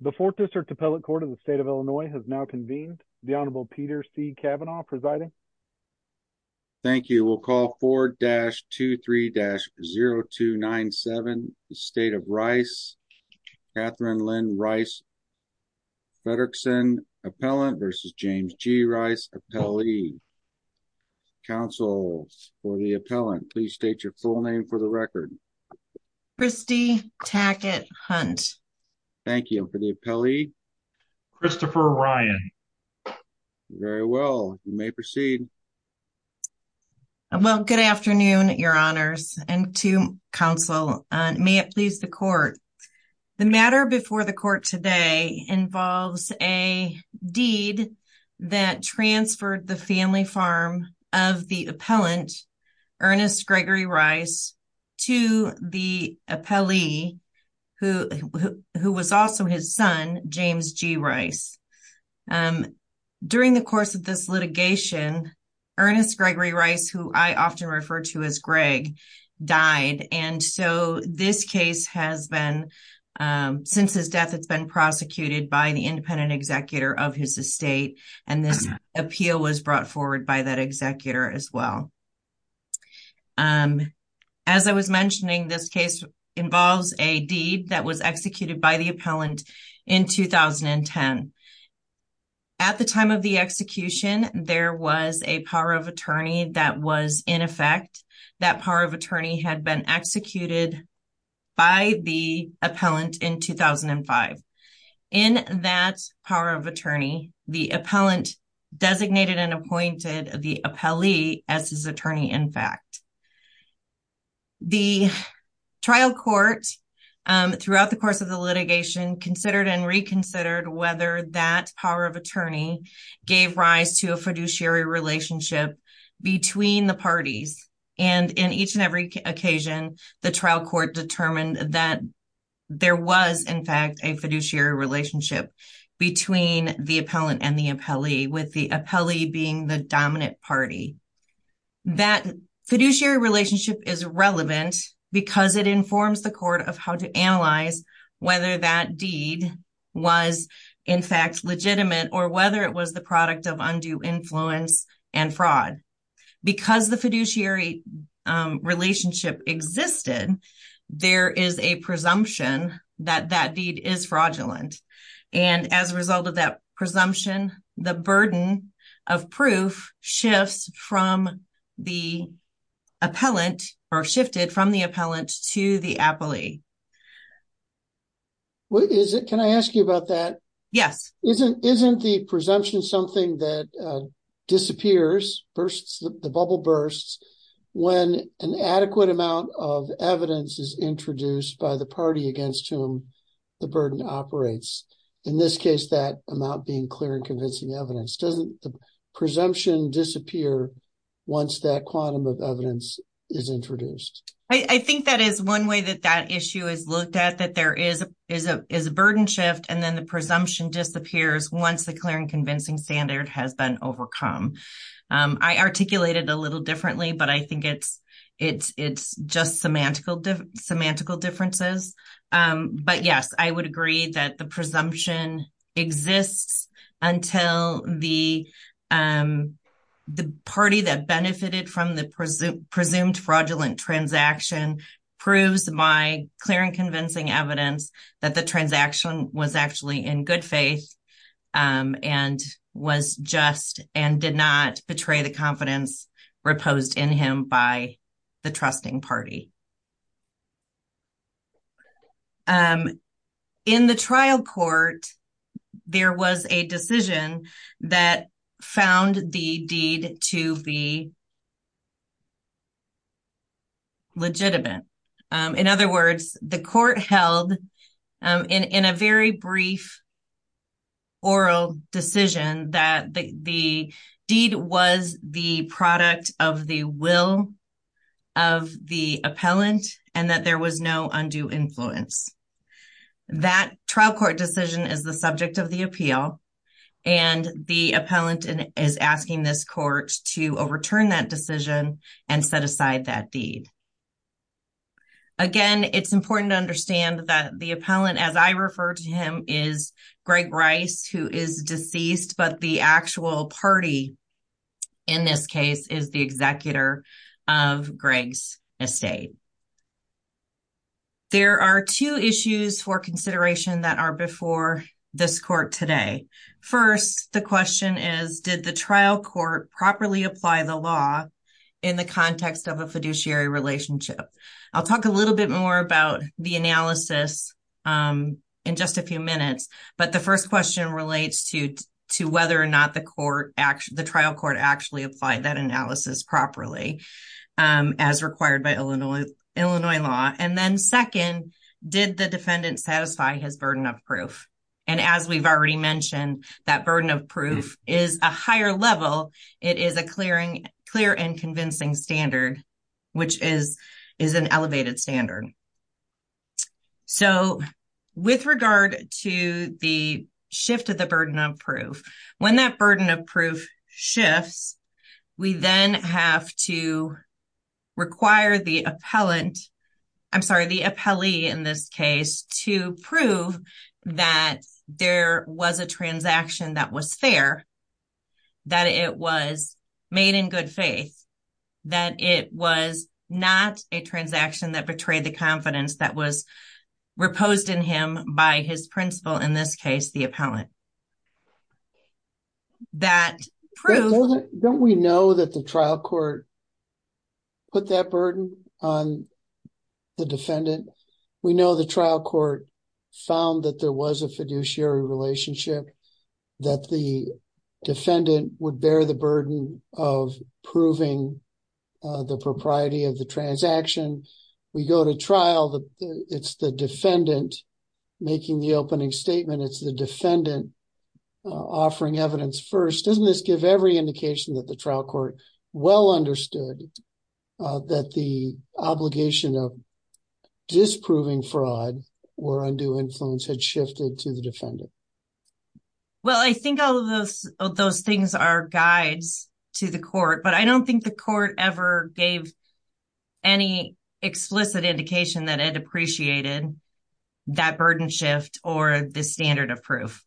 The 4th District Appellate Court of the State of Illinois has now convened. The Honorable Peter C. Kavanaugh presiding. Thank you. We'll call 4-23-0297, the State of Rice. Katherine Lynn Rice, Federickson Appellant versus James G. Rice, Appellee. Counsel for the Appellant, please state your full name for the record. Kristi Tackett Hunt. Thank you. For the Appellee? Christopher Ryan. Very well. You may proceed. Well, good afternoon, Your Honors, and to Counsel. May it please the Court. The matter before the Court today involves a deed that transferred the family farm of the Appellant, Ernest Gregory Rice, to the Appellee, who was also his son, James G. Rice. During the course of this litigation, Ernest Gregory Rice, who I often refer to as Greg, died, and so this case has been, since his death, it's been prosecuted by the independent executor of his estate, and this appeal was brought forward by that executor as well. As I was mentioning, this case involves a deed that was executed by the Appellant in 2010. At the time of the execution, there was a power of attorney that was in effect. That power of attorney had been executed by the Appellant in 2005. In that power of attorney, the Appellant designated and appointed the Appellee as his attorney, in fact. The trial court, throughout the course of the litigation, considered and reconsidered whether that power of attorney gave rise to a fiduciary relationship between the parties. And in each and every occasion, the trial court determined that there was, in fact, a fiduciary relationship between the Appellant and the Appellee, with the Appellee being the dominant party. That fiduciary relationship is relevant because it informs the court of how to analyze whether that deed was, in fact, legitimate or whether it was the product of undue influence and fraud. Because the fiduciary relationship existed, there is a presumption that that deed is fraudulent. And as a result of that presumption, the burden of proof shifts from the Appellant or shifted from the Appellant to the Appellee. Can I ask you about that? Yes. Isn't the presumption something that disappears, the bubble bursts, when an adequate amount of evidence is introduced by the party against whom the burden operates? In this case, that amount being clear and convincing evidence. Doesn't the presumption disappear once that quantum of evidence is introduced? I think that is one way that that issue is looked at, that there is a burden shift and then the presumption disappears once the clear and convincing standard has been overcome. I articulate it a little differently, but I think it's just semantical differences. But, yes, I would agree that the presumption exists until the party that benefited from the presumed fraudulent transaction proves by clear and convincing evidence that the transaction was actually in good faith and was just and did not betray the confidence reposed in him by the trusting party. In the trial court, there was a decision that found the deed to be legitimate. In other words, the court held in a very brief oral decision that the deed was the product of the will of the Appellant and that there was no undue influence. That trial court decision is the subject of the appeal, and the Appellant is asking this court to overturn that decision and set aside that deed. Again, it's important to understand that the Appellant, as I refer to him, is Greg Rice, who is deceased, but the actual party in this case is the executor of Greg's estate. There are two issues for consideration that are before this court today. First, the question is, did the trial court properly apply the law in the context of a fiduciary relationship? I'll talk a little bit more about the analysis in just a few minutes, but the first question relates to whether or not the trial court actually applied that analysis properly as required by Illinois law. And then second, did the defendant satisfy his burden of proof? And as we've already mentioned, that burden of proof is a higher level. It is a clear and convincing standard, which is an elevated standard. So with regard to the shift of the burden of proof, when that burden of proof shifts, we then have to require the Appellant, I'm sorry, the Appellee in this case, to prove that there was a transaction that was fair, that it was made in good faith, that it was not a transaction that betrayed the confidence that was reposed in him by his principal, in this case, the Appellant. Don't we know that the trial court put that burden on the defendant? We know the trial court found that there was a fiduciary relationship, that the defendant would bear the burden of proving the propriety of the transaction. We go to trial, it's the defendant making the opening statement, it's the defendant offering evidence first. Doesn't this give every indication that the trial court well understood that the obligation of disproving fraud or undue influence had shifted to the defendant? Well, I think all of those things are guides to the court, but I don't think the court ever gave any explicit indication that it appreciated that burden shift or the standard of proof.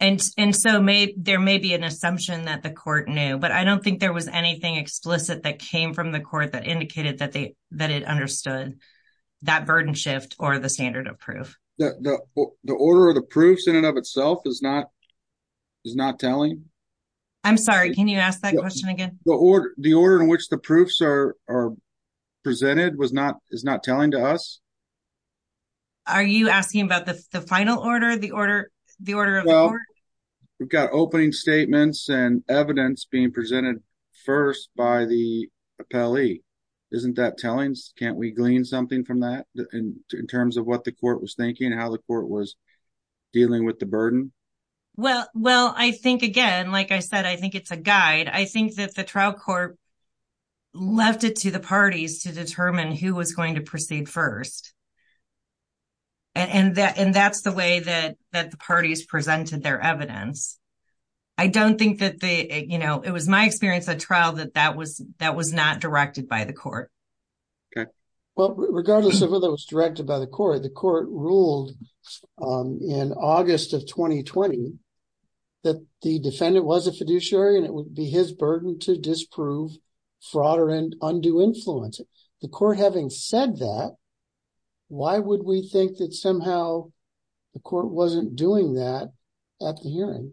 And so there may be an assumption that the court knew, but I don't think there was anything explicit that came from the court that indicated that it understood that burden shift or the standard of proof. The order of the proofs in and of itself is not telling? I'm sorry, can you ask that question again? The order in which the proofs are presented is not telling to us? Are you asking about the final order, the order of the court? Dealing with the burden? Well, I think again, like I said, I think it's a guide. I think that the trial court left it to the parties to determine who was going to proceed first. And that's the way that the parties presented their evidence. I don't think that they, you know, it was my experience at trial that that was not directed by the court. Well, regardless of whether it was directed by the court, the court ruled in August of 2020 that the defendant was a fiduciary and it would be his burden to disprove fraud or undue influence. The court having said that, why would we think that somehow the court wasn't doing that at the hearing?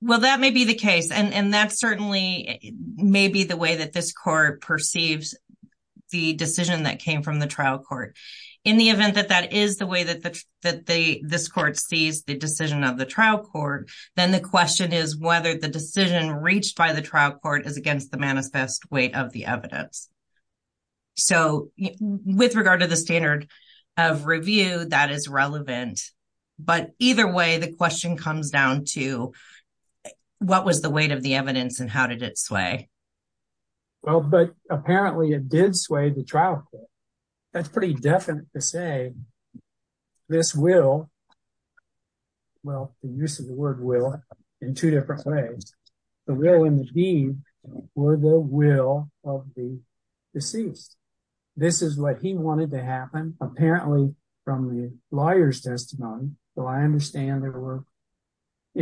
Well, that may be the case, and that certainly may be the way that this court perceives the decision that came from the trial court. In the event that that is the way that this court sees the decision of the trial court, then the question is whether the decision reached by the trial court is against the manifest weight of the evidence. So, with regard to the standard of review, that is relevant. But either way, the question comes down to what was the weight of the evidence and how did it sway? Well, but apparently it did sway the trial court. That's pretty definite to say this will. Well, the use of the word will in two different ways. The will and the deed were the will of the deceased. This is what he wanted to happen, apparently from the lawyer's testimony. So I understand there were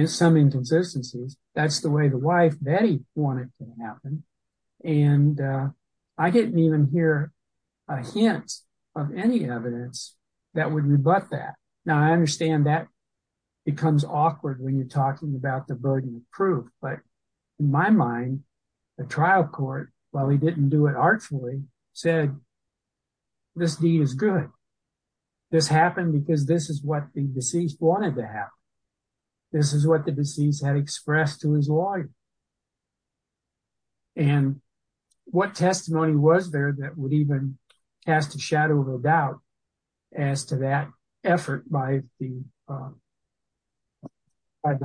some inconsistencies. And I didn't even hear a hint of any evidence that would rebut that. Now, I understand that becomes awkward when you're talking about the burden of proof. But in my mind, the trial court, while he didn't do it artfully, said this deed is good. This happened because this is what the deceased wanted to happen. This is what the deceased had expressed to his lawyer. And what testimony was there that would even cast a shadow of a doubt as to that effort by the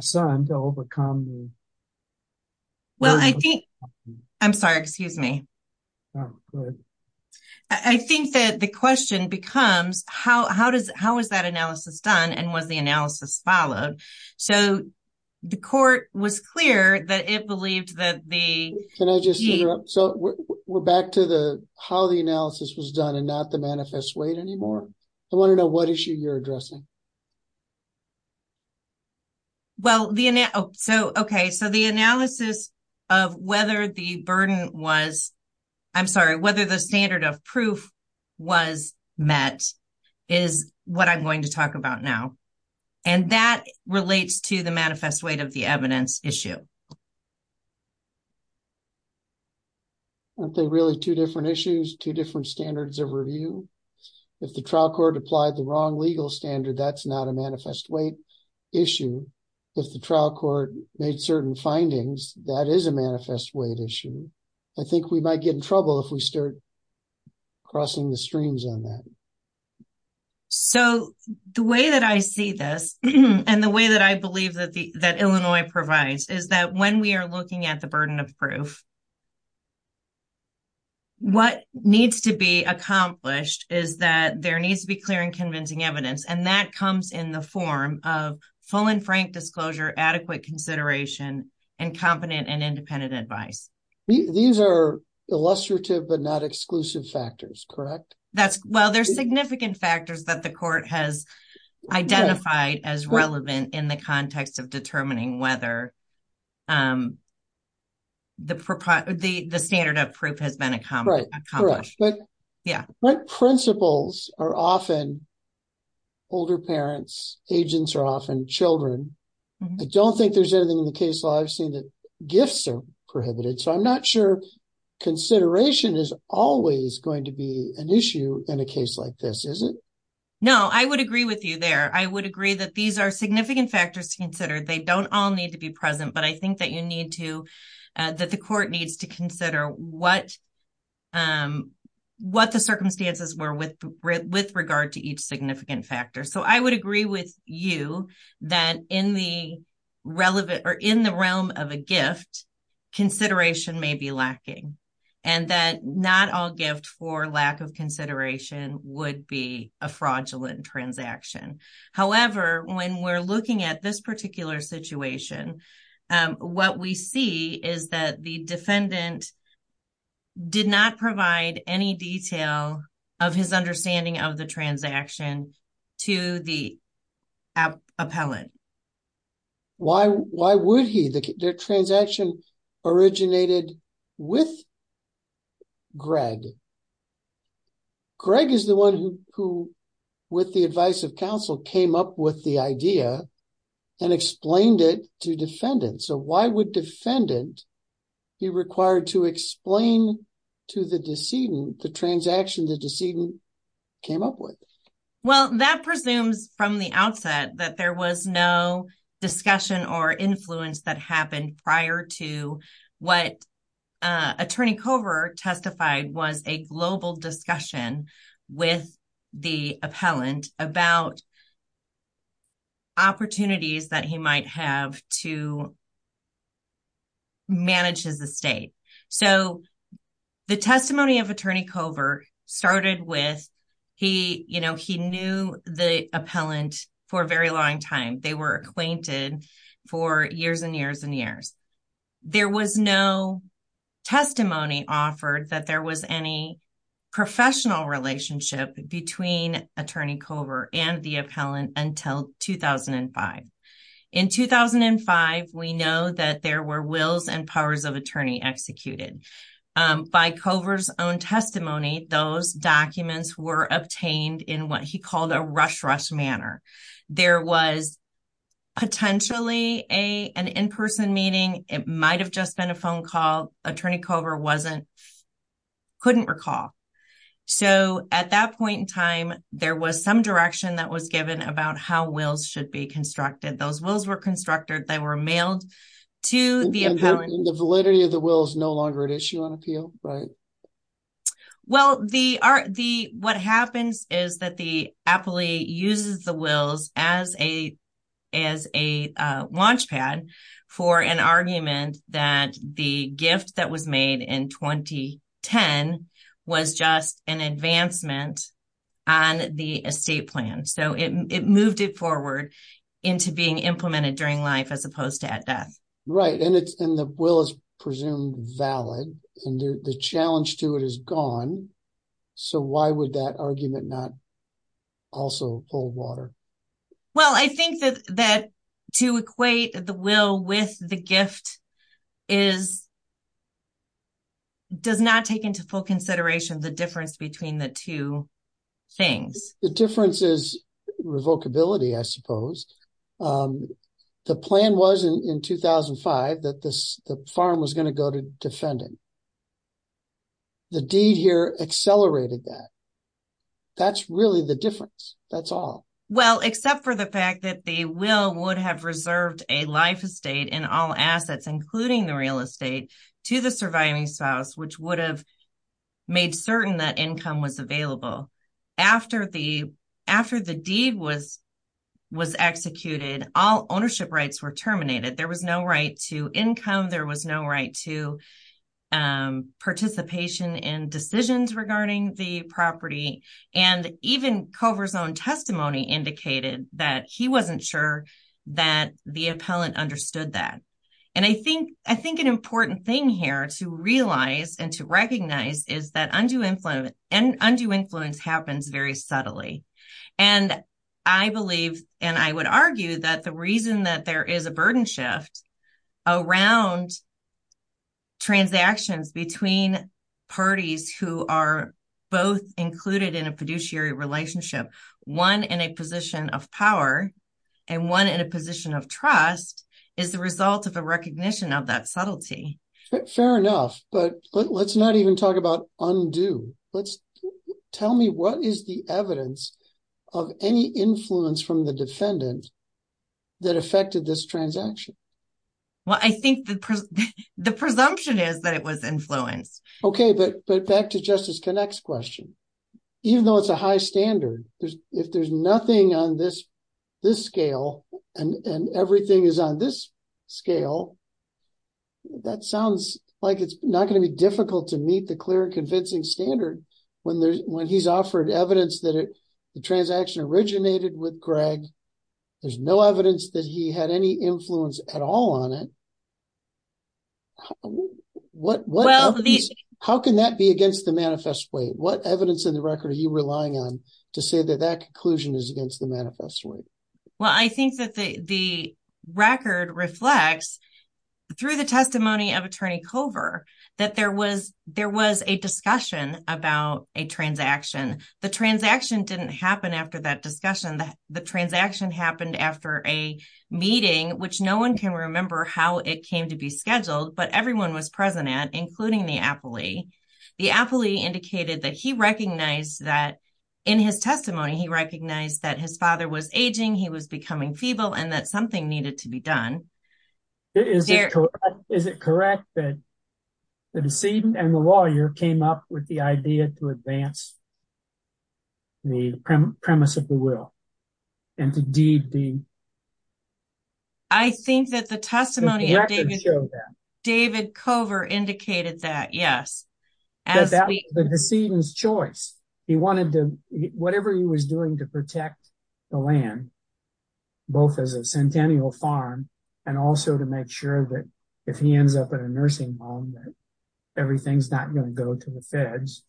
son to overcome? Well, I think, I'm sorry, excuse me. I think that the question becomes how is that analysis done and was the analysis followed? So the court was clear that it believed that the. Can I just interrupt? So we're back to the how the analysis was done and not the manifest weight anymore. I want to know what issue you're addressing. Well, the so OK, so the analysis of whether the burden was I'm sorry, whether the standard of proof was met is what I'm going to talk about now. And that relates to the manifest weight of the evidence issue. Aren't they really two different issues, two different standards of review? If the trial court applied the wrong legal standard, that's not a manifest weight issue. If the trial court made certain findings, that is a manifest weight issue. I think we might get in trouble if we start crossing the streams on that. So the way that I see this and the way that I believe that that Illinois provides is that when we are looking at the burden of proof. What needs to be accomplished is that there needs to be clear and convincing evidence, and that comes in the form of full and frank disclosure, adequate consideration and competent and independent advice. These are illustrative but not exclusive factors, correct? That's well, there's significant factors that the court has identified as relevant in the context of determining whether. The the standard of proof has been accomplished. Yeah. Principles are often. Older parents, agents are often children. I don't think there's anything in the case law. I've seen that gifts are prohibited, so I'm not sure. Consideration is always going to be an issue in a case like this, is it? No, I would agree with you there. I would agree that these are significant factors to consider. They don't all need to be present, but I think that you need to that the court needs to consider what what the circumstances were with with regard to each significant factor. So I would agree with you that in the relevant or in the realm of a gift consideration may be lacking and that not all gift for lack of consideration would be a fraudulent transaction. However, when we're looking at this particular situation, what we see is that the defendant. Did not provide any detail of his understanding of the transaction to the appellant. Why why would he the transaction originated with? Greg. Greg is the one who who with the advice of counsel came up with the idea and explained it to defendants. So why would defendant be required to explain to the decedent the transaction the decedent came up with? Well, that presumes from the outset that there was no discussion or influence that happened prior to what attorney cover testified was a global discussion with the appellant about. Opportunities that he might have to. Manages the state, so the testimony of attorney cover started with he, you know, he knew the appellant for a very long time. They were acquainted for years and years and years. There was no testimony offered that there was any professional relationship between attorney cover and the appellant until 2005. In 2005, we know that there were wills and powers of attorney executed by covers own testimony. Those documents were obtained in what he called a rush rush manner. There was. Potentially a an in person meeting. It might have just been a phone call. Attorney cover wasn't. Couldn't recall. So at that point in time, there was some direction that was given about how wills should be constructed. Those wills were constructed. They were mailed to the appellant. The validity of the will is no longer at issue on appeal, right? Well, the are the what happens is that the appellee uses the wills as a as a launchpad for an argument that the gift that was made in 2010 was just an advancement on the estate plan. So it moved it forward into being implemented during life as opposed to at death. Right. And it's in the will is presumed valid. And the challenge to it is gone. So why would that argument not also hold water? Well, I think that that to equate the will with the gift is. Does not take into full consideration the difference between the two things. The difference is revoke ability, I suppose. The plan was in 2005 that the farm was going to go to defending. The deed here accelerated that. That's really the difference. That's all. Well, except for the fact that they will would have reserved a life estate and all assets, including the real estate to the surviving spouse, which would have. Made certain that income was available after the after the deed was was executed. All ownership rights were terminated. There was no right to income. There was no right to. Participation in decisions regarding the property and even covers on testimony indicated that he wasn't sure that the appellant understood that. And I think I think an important thing here to realize and to recognize is that undue influence and undue influence happens very subtly. And I believe and I would argue that the reason that there is a burden shift around. Transactions between parties who are both included in a fiduciary relationship, one in a position of power and one in a position of trust is the result of a recognition of that subtlety. Fair enough, but let's not even talk about undo. Let's tell me what is the evidence of any influence from the defendant that affected this transaction. Well, I think the presumption is that it was influenced. Okay. But but back to justice connects question. Even though it's a high standard, if there's nothing on this, this scale and everything is on this scale. That sounds like it's not going to be difficult to meet the clear, convincing standard when there's when he's offered evidence that the transaction originated with Greg. There's no evidence that he had any influence at all on it. What well, how can that be against the manifest way? What evidence in the record are you relying on to say that that conclusion is against the manifest way? Well, I think that the record reflects through the testimony of attorney cover that there was there was a discussion about a transaction. The transaction didn't happen after that discussion. The transaction happened after a meeting, which no one can remember how it came to be scheduled. But everyone was present at, including the appellee. The appellee indicated that he recognized that in his testimony, he recognized that his father was aging. He was becoming feeble and that something needed to be done. Is it correct that the decedent and the lawyer came up with the idea to advance? The premise of the will and to do the. I think that the testimony David cover indicated that, yes, as the decedent's choice, he wanted to whatever he was doing to protect the land. Both as a centennial farm and also to make sure that if he ends up in a nursing home, everything's not going to go to the feds.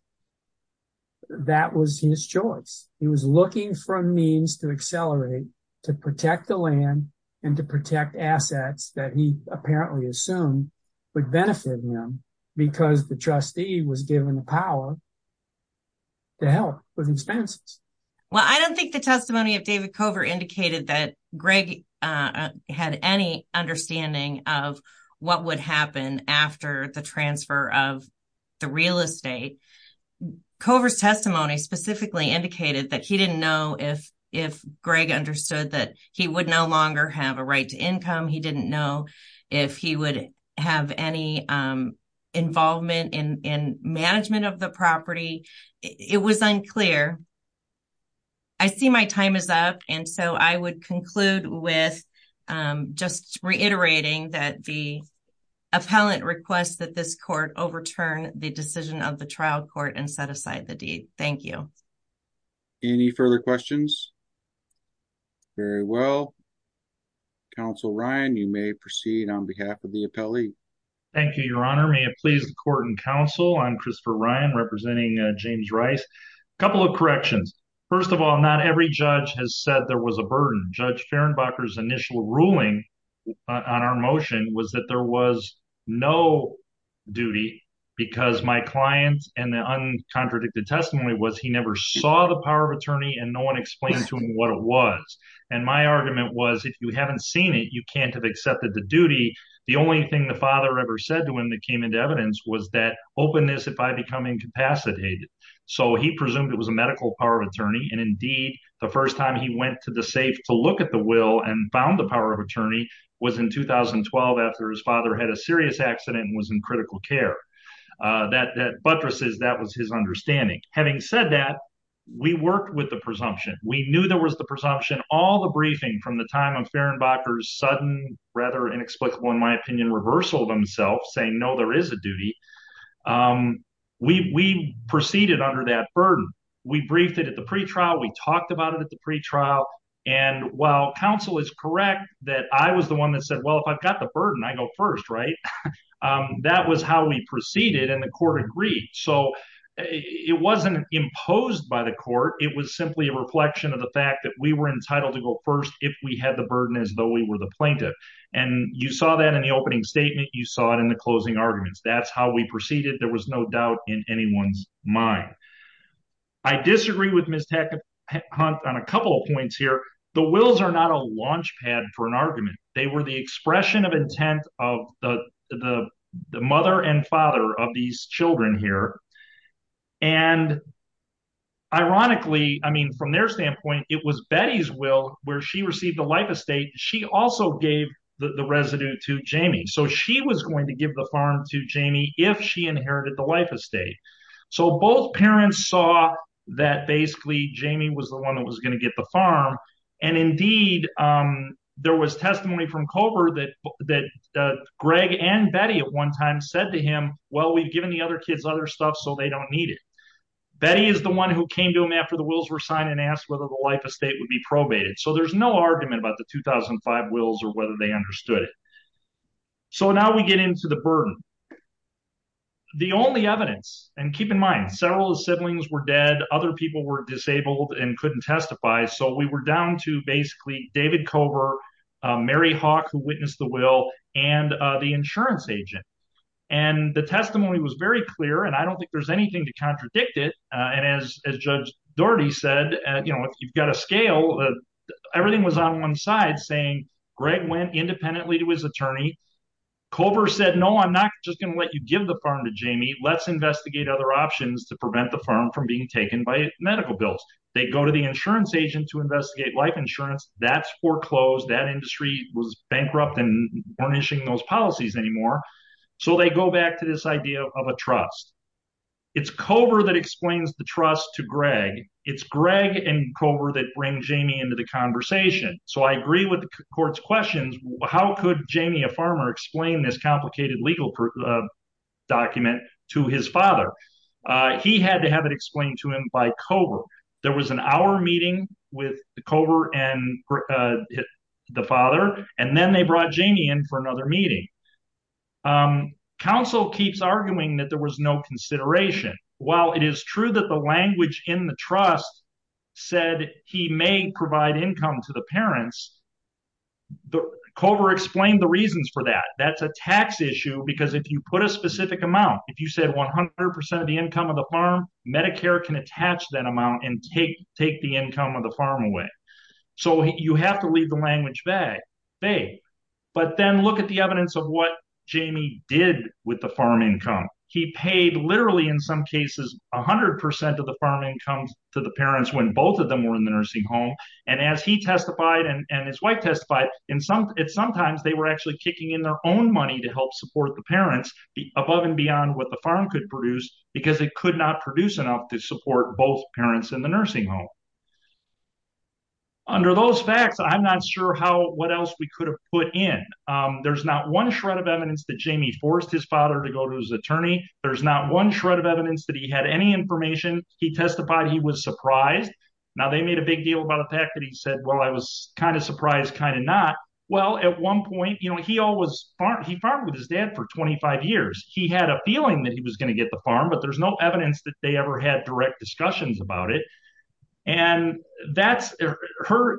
That was his choice. He was looking for a means to accelerate to protect the land and to protect assets that he apparently assumed would benefit him because the trustee was given the power. To help with expenses. Well, I don't think the testimony of David cover indicated that Greg had any understanding of what would happen after the transfer of the real estate. Cover's testimony specifically indicated that he didn't know if if Greg understood that he would no longer have a right to income. He didn't know if he would have any involvement in management of the property. It was unclear. I see my time is up and so I would conclude with just reiterating that the appellant requests that this court overturn the decision of the trial court and set aside the deed. Thank you. Any further questions? Very well. Council Ryan, you may proceed on behalf of the appellee. Thank you, Your Honor. May it please the court and counsel. I'm Christopher Ryan representing James Rice. A couple of corrections. First of all, not every judge has said there was a burden. Judge Ferenbacher's initial ruling on our motion was that there was no duty because my clients and the uncontradicted testimony was he never saw the power of attorney and no one explained to him what it was. And my argument was, if you haven't seen it, you can't have accepted the duty. The only thing the father ever said to him that came into evidence was that openness if I become incapacitated. So he presumed it was a medical power of attorney. And indeed, the first time he went to the safe to look at the will and found the power of attorney was in 2012 after his father had a serious accident and was in critical care. That buttresses that was his understanding. Having said that, we worked with the presumption. We knew there was the presumption. All the briefing from the time of Ferenbacher's sudden, rather inexplicable in my opinion, reversal of himself saying, no, there is a duty. We proceeded under that burden. We briefed it at the pretrial. We talked about it at the pretrial. And while counsel is correct that I was the one that said, well, if I've got the burden, I go first, right? That was how we proceeded. And the court agreed. So it wasn't imposed by the court. It was simply a reflection of the fact that we were entitled to go first if we had the burden as though we were the plaintiff. And you saw that in the opening statement. You saw it in the closing arguments. That's how we proceeded. There was no doubt in anyone's mind. I disagree with Ms. Hackett Hunt on a couple of points here. The wills are not a launchpad for an argument. They were the expression of intent of the mother and father of these children here. And ironically, I mean, from their standpoint, it was Betty's will where she received the life estate. She also gave the residue to Jamie. So she was going to give the farm to Jamie if she inherited the life estate. So both parents saw that basically Jamie was the one that was going to get the farm. And indeed, there was testimony from Culver that Greg and Betty at one time said to him, well, we've given the other kids other stuff so they don't need it. Betty is the one who came to him after the wills were signed and asked whether the life estate would be probated. So there's no argument about the 2005 wills or whether they understood it. So now we get into the burden. The only evidence, and keep in mind, several of the siblings were dead. Other people were disabled and couldn't testify. So we were down to basically David Culver, Mary Hawk, who witnessed the will, and the insurance agent. And the testimony was very clear, and I don't think there's anything to contradict it. And as Judge Doherty said, you know, if you've got a scale, everything was on one side, saying Greg went independently to his attorney. Culver said, no, I'm not just going to let you give the farm to Jamie. Let's investigate other options to prevent the farm from being taken by medical bills. They go to the insurance agent to investigate life insurance. That's foreclosed. That industry was bankrupt and burnishing those policies anymore. So they go back to this idea of a trust. It's Culver that explains the trust to Greg. It's Greg and Culver that bring Jamie into the conversation. So I agree with the court's questions. How could Jamie, a farmer, explain this complicated legal document to his father? He had to have it explained to him by Culver. So there was an hour meeting with Culver and the father, and then they brought Jamie in for another meeting. Counsel keeps arguing that there was no consideration. While it is true that the language in the trust said he may provide income to the parents, Culver explained the reasons for that. That's a tax issue, because if you put a specific amount, if you said 100% of the income of the farm, Medicare can attach that amount and take the income of the farm away. So you have to leave the language vague. But then look at the evidence of what Jamie did with the farm income. He paid literally, in some cases, 100% of the farm income to the parents when both of them were in the nursing home. And as he testified and his wife testified, sometimes they were actually kicking in their own money to help support the parents above and beyond what the farm could produce, because it could not produce enough to support both parents in the nursing home. Under those facts, I'm not sure what else we could have put in. There's not one shred of evidence that Jamie forced his father to go to his attorney. There's not one shred of evidence that he had any information. He testified he was surprised. Now, they made a big deal about the fact that he said, well, I was kind of surprised, kind of not. Well, at one point, he farmed with his dad for 25 years. He had a feeling that he was going to get the farm, but there's no evidence that they ever had direct discussions about it. And her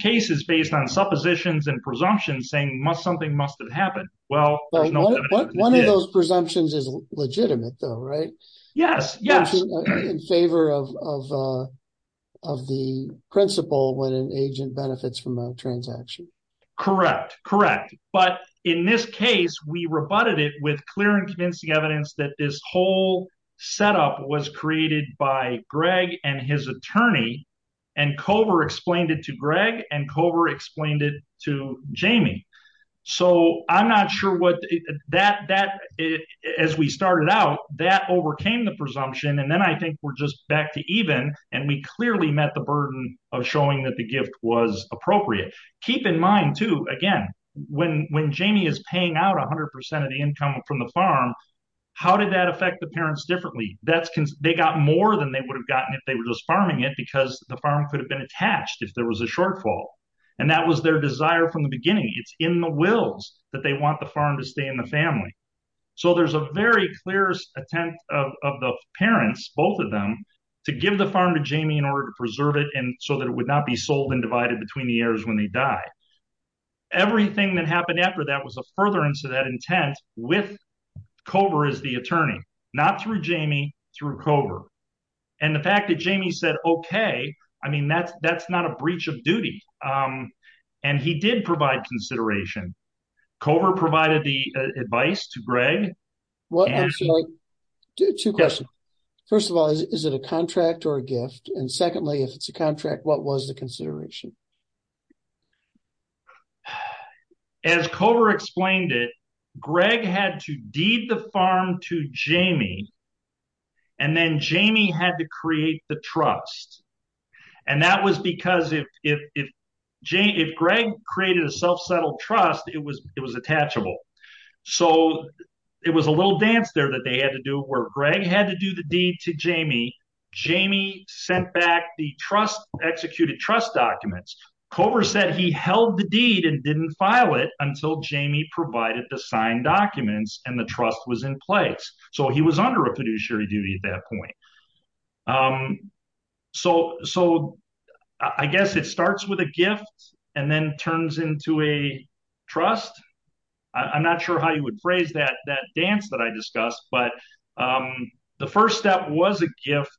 case is based on suppositions and presumptions saying something must have happened. One of those presumptions is legitimate, though, right? Yes, yes. In favor of the principle when an agent benefits from a transaction. Correct, correct. But in this case, we rebutted it with clear and convincing evidence that this whole setup was created by Greg and his attorney. And Cover explained it to Greg and Cover explained it to Jamie. So I'm not sure what that as we started out, that overcame the presumption. And then I think we're just back to even and we clearly met the burden of showing that the gift was appropriate. Keep in mind, too, again, when when Jamie is paying out 100 percent of the income from the farm, how did that affect the parents differently? They got more than they would have gotten if they were just farming it because the farm could have been attached if there was a shortfall. And that was their desire from the beginning. It's in the wills that they want the farm to stay in the family. So there's a very clear attempt of the parents, both of them, to give the farm to Jamie in order to preserve it and so that it would not be sold and divided between the heirs when they die. Everything that happened after that was a furtherance of that intent with Cover as the attorney, not through Jamie, through Cover. And the fact that Jamie said, OK, I mean, that's that's not a breach of duty. And he did provide consideration. Cover provided the advice to Greg. Two questions. First of all, is it a contract or a gift? And secondly, if it's a contract, what was the consideration? As Cover explained it, Greg had to deed the farm to Jamie. And then Jamie had to create the trust. And that was because if if if if Greg created a self-settled trust, it was it was attachable. So it was a little dance there that they had to do where Greg had to do the deed to Jamie. Jamie sent back the trust, executed trust documents. Cover said he held the deed and didn't file it until Jamie provided the signed documents and the trust was in place. So he was under a fiduciary duty at that point. So so I guess it starts with a gift and then turns into a trust. I'm not sure how you would phrase that that dance that I discussed, but the first step was a gift.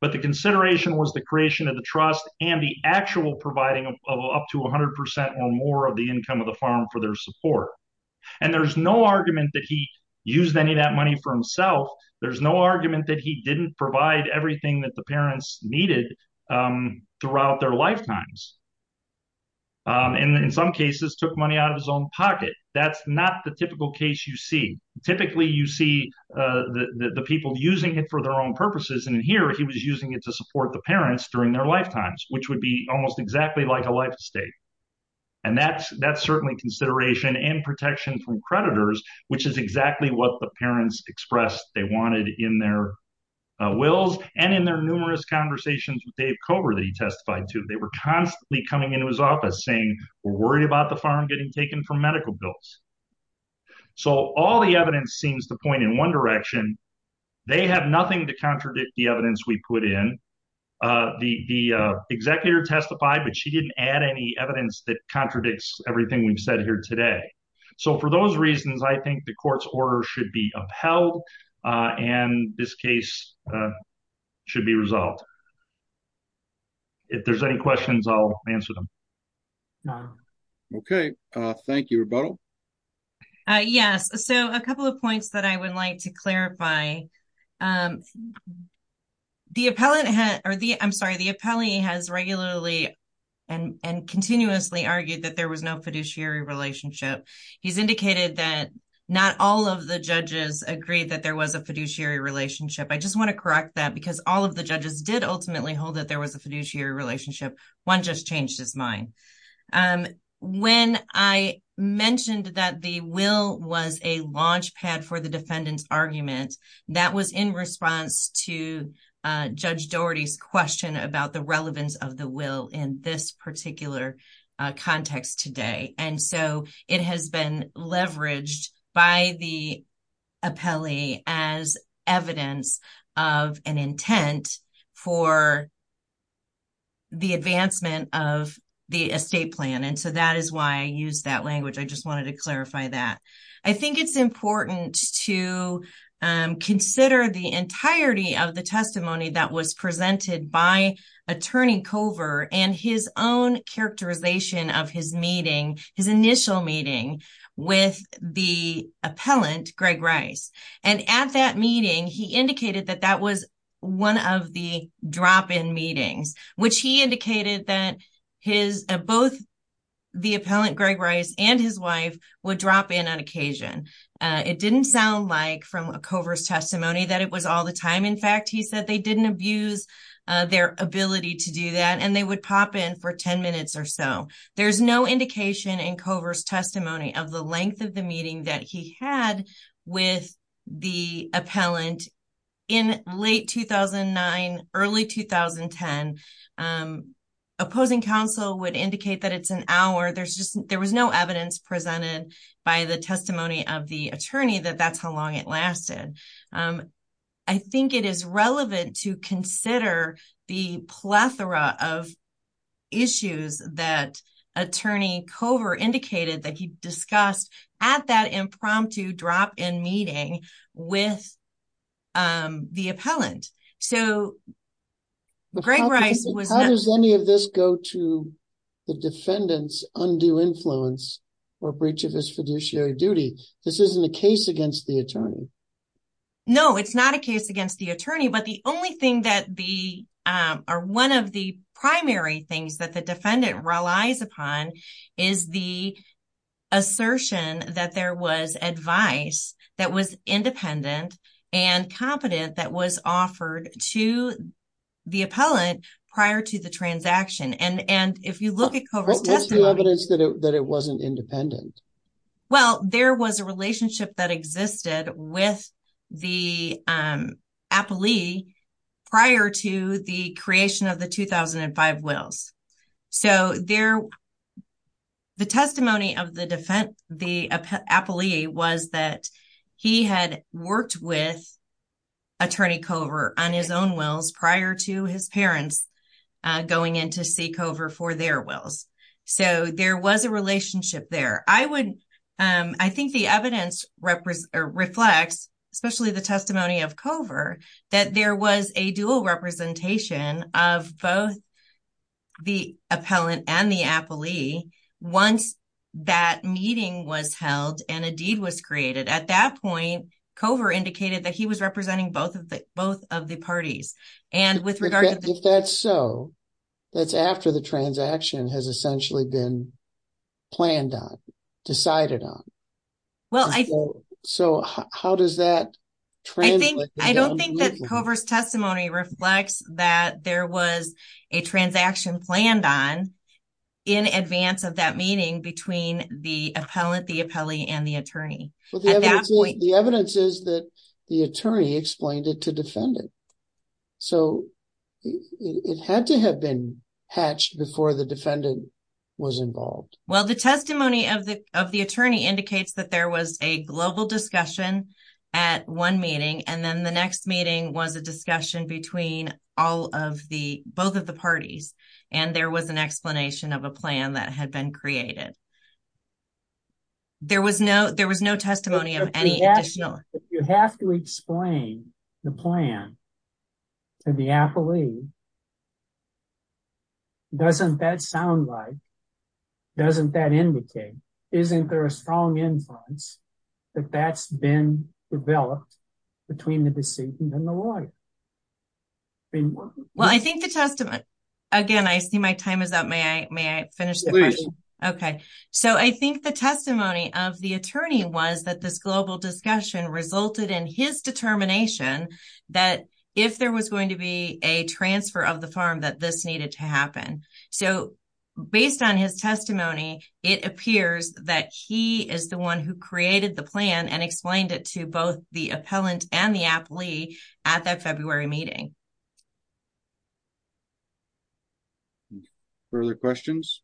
But the consideration was the creation of the trust and the actual providing of up to 100 percent or more of the income of the farm for their support. And there's no argument that he used any of that money for himself. There's no argument that he didn't provide everything that the parents needed throughout their lifetimes. And in some cases took money out of his own pocket. That's not the typical case you see. Typically, you see the people using it for their own purposes. And here he was using it to support the parents during their lifetimes, which would be almost exactly like a life estate. And that's that's certainly consideration and protection from creditors, which is exactly what the parents expressed they wanted in their wills and in their numerous conversations with Dave Cover that he testified to. They were constantly coming into his office saying we're worried about the farm getting taken for medical bills. So all the evidence seems to point in one direction. They have nothing to contradict the evidence we put in. The executive testified, but she didn't add any evidence that contradicts everything we've said here today. So for those reasons, I think the court's order should be upheld and this case should be resolved. If there's any questions, I'll answer them. OK, thank you. Yes. So a couple of points that I would like to clarify. The appellate or the I'm sorry, the appellee has regularly and continuously argued that there was no fiduciary relationship. He's indicated that not all of the judges agreed that there was a fiduciary relationship. I just want to correct that because all of the judges did ultimately hold that there was a fiduciary relationship. One just changed his mind when I mentioned that the will was a launchpad for the defendant's argument. That was in response to Judge Doherty's question about the relevance of the will in this particular context today. And so it has been leveraged by the appellee as evidence of an intent for the advancement of the estate plan. And so that is why I use that language. I just wanted to clarify that. I think it's important to consider the entirety of the testimony that was presented by Attorney Cover and his own characterization of his meeting, his initial meeting with the appellant, Greg Rice. And at that meeting, he indicated that that was one of the drop in meetings, which he indicated that his both the appellant Greg Rice and his wife would drop in on occasion. It didn't sound like from a cover's testimony that it was all the time. In fact, he said they didn't abuse their ability to do that. And they would pop in for 10 minutes or so. There's no indication in cover's testimony of the length of the meeting that he had with the appellant in late 2009, early 2010. Opposing counsel would indicate that it's an hour. There was no evidence presented by the testimony of the attorney that that's how long it lasted. I think it is relevant to consider the plethora of issues that Attorney Cover indicated that he discussed at that impromptu drop in meeting with the appellant. So, Greg Rice was. How does any of this go to the defendant's undue influence or breach of his fiduciary duty? This isn't a case against the attorney. No, it's not a case against the attorney, but the only thing that the are 1 of the primary things that the defendant relies upon is the assertion that there was advice that was independent and competent that was offered to the appellant prior to the transaction. And if you look at coverage evidence that it wasn't independent. Well, there was a relationship that existed with the prior to the creation of the 2005 wills. So, there the testimony of the defense, the appellee was that he had worked with. Attorney cover on his own wills prior to his parents going in to seek over for their wills. So there was a relationship there. I would, I think the evidence reflects, especially the testimony of cover that there was a dual representation of both. The appellant and the appellee once that meeting was held and a deed was created at that point, cover indicated that he was representing both of the both of the parties and with regard to that. So. That's after the transaction has essentially been. Planned on decided on. So, how does that. I don't think that covers testimony reflects that there was a transaction planned on. In advance of that meeting between the appellate the appellee and the attorney. The evidence is that the attorney explained it to defend it. So, it had to have been hatched before the defendant was involved. Well, the testimony of the, of the attorney indicates that there was a global discussion at 1 meeting and then the next meeting was a discussion between all of the both of the parties. And there was an explanation of a plan that had been created. There was no, there was no testimony of any national, you have to explain the plan to the appellee. Doesn't that sound like doesn't that indicate, isn't there a strong influence that that's been developed between the deceit and the lawyer. Well, I think the testimony again, I see my time is up. May I may I finish the. Okay, so I think the testimony of the attorney was that this global discussion resulted in his determination that if there was going to be a transfer of the farm that this needed to happen. So, based on his testimony, it appears that he is the 1 who created the plan and explained it to both the appellant and the aptly at that February meeting. Further questions.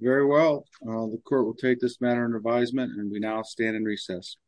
Very well, the court will take this matter and advisement and we now stand in recess.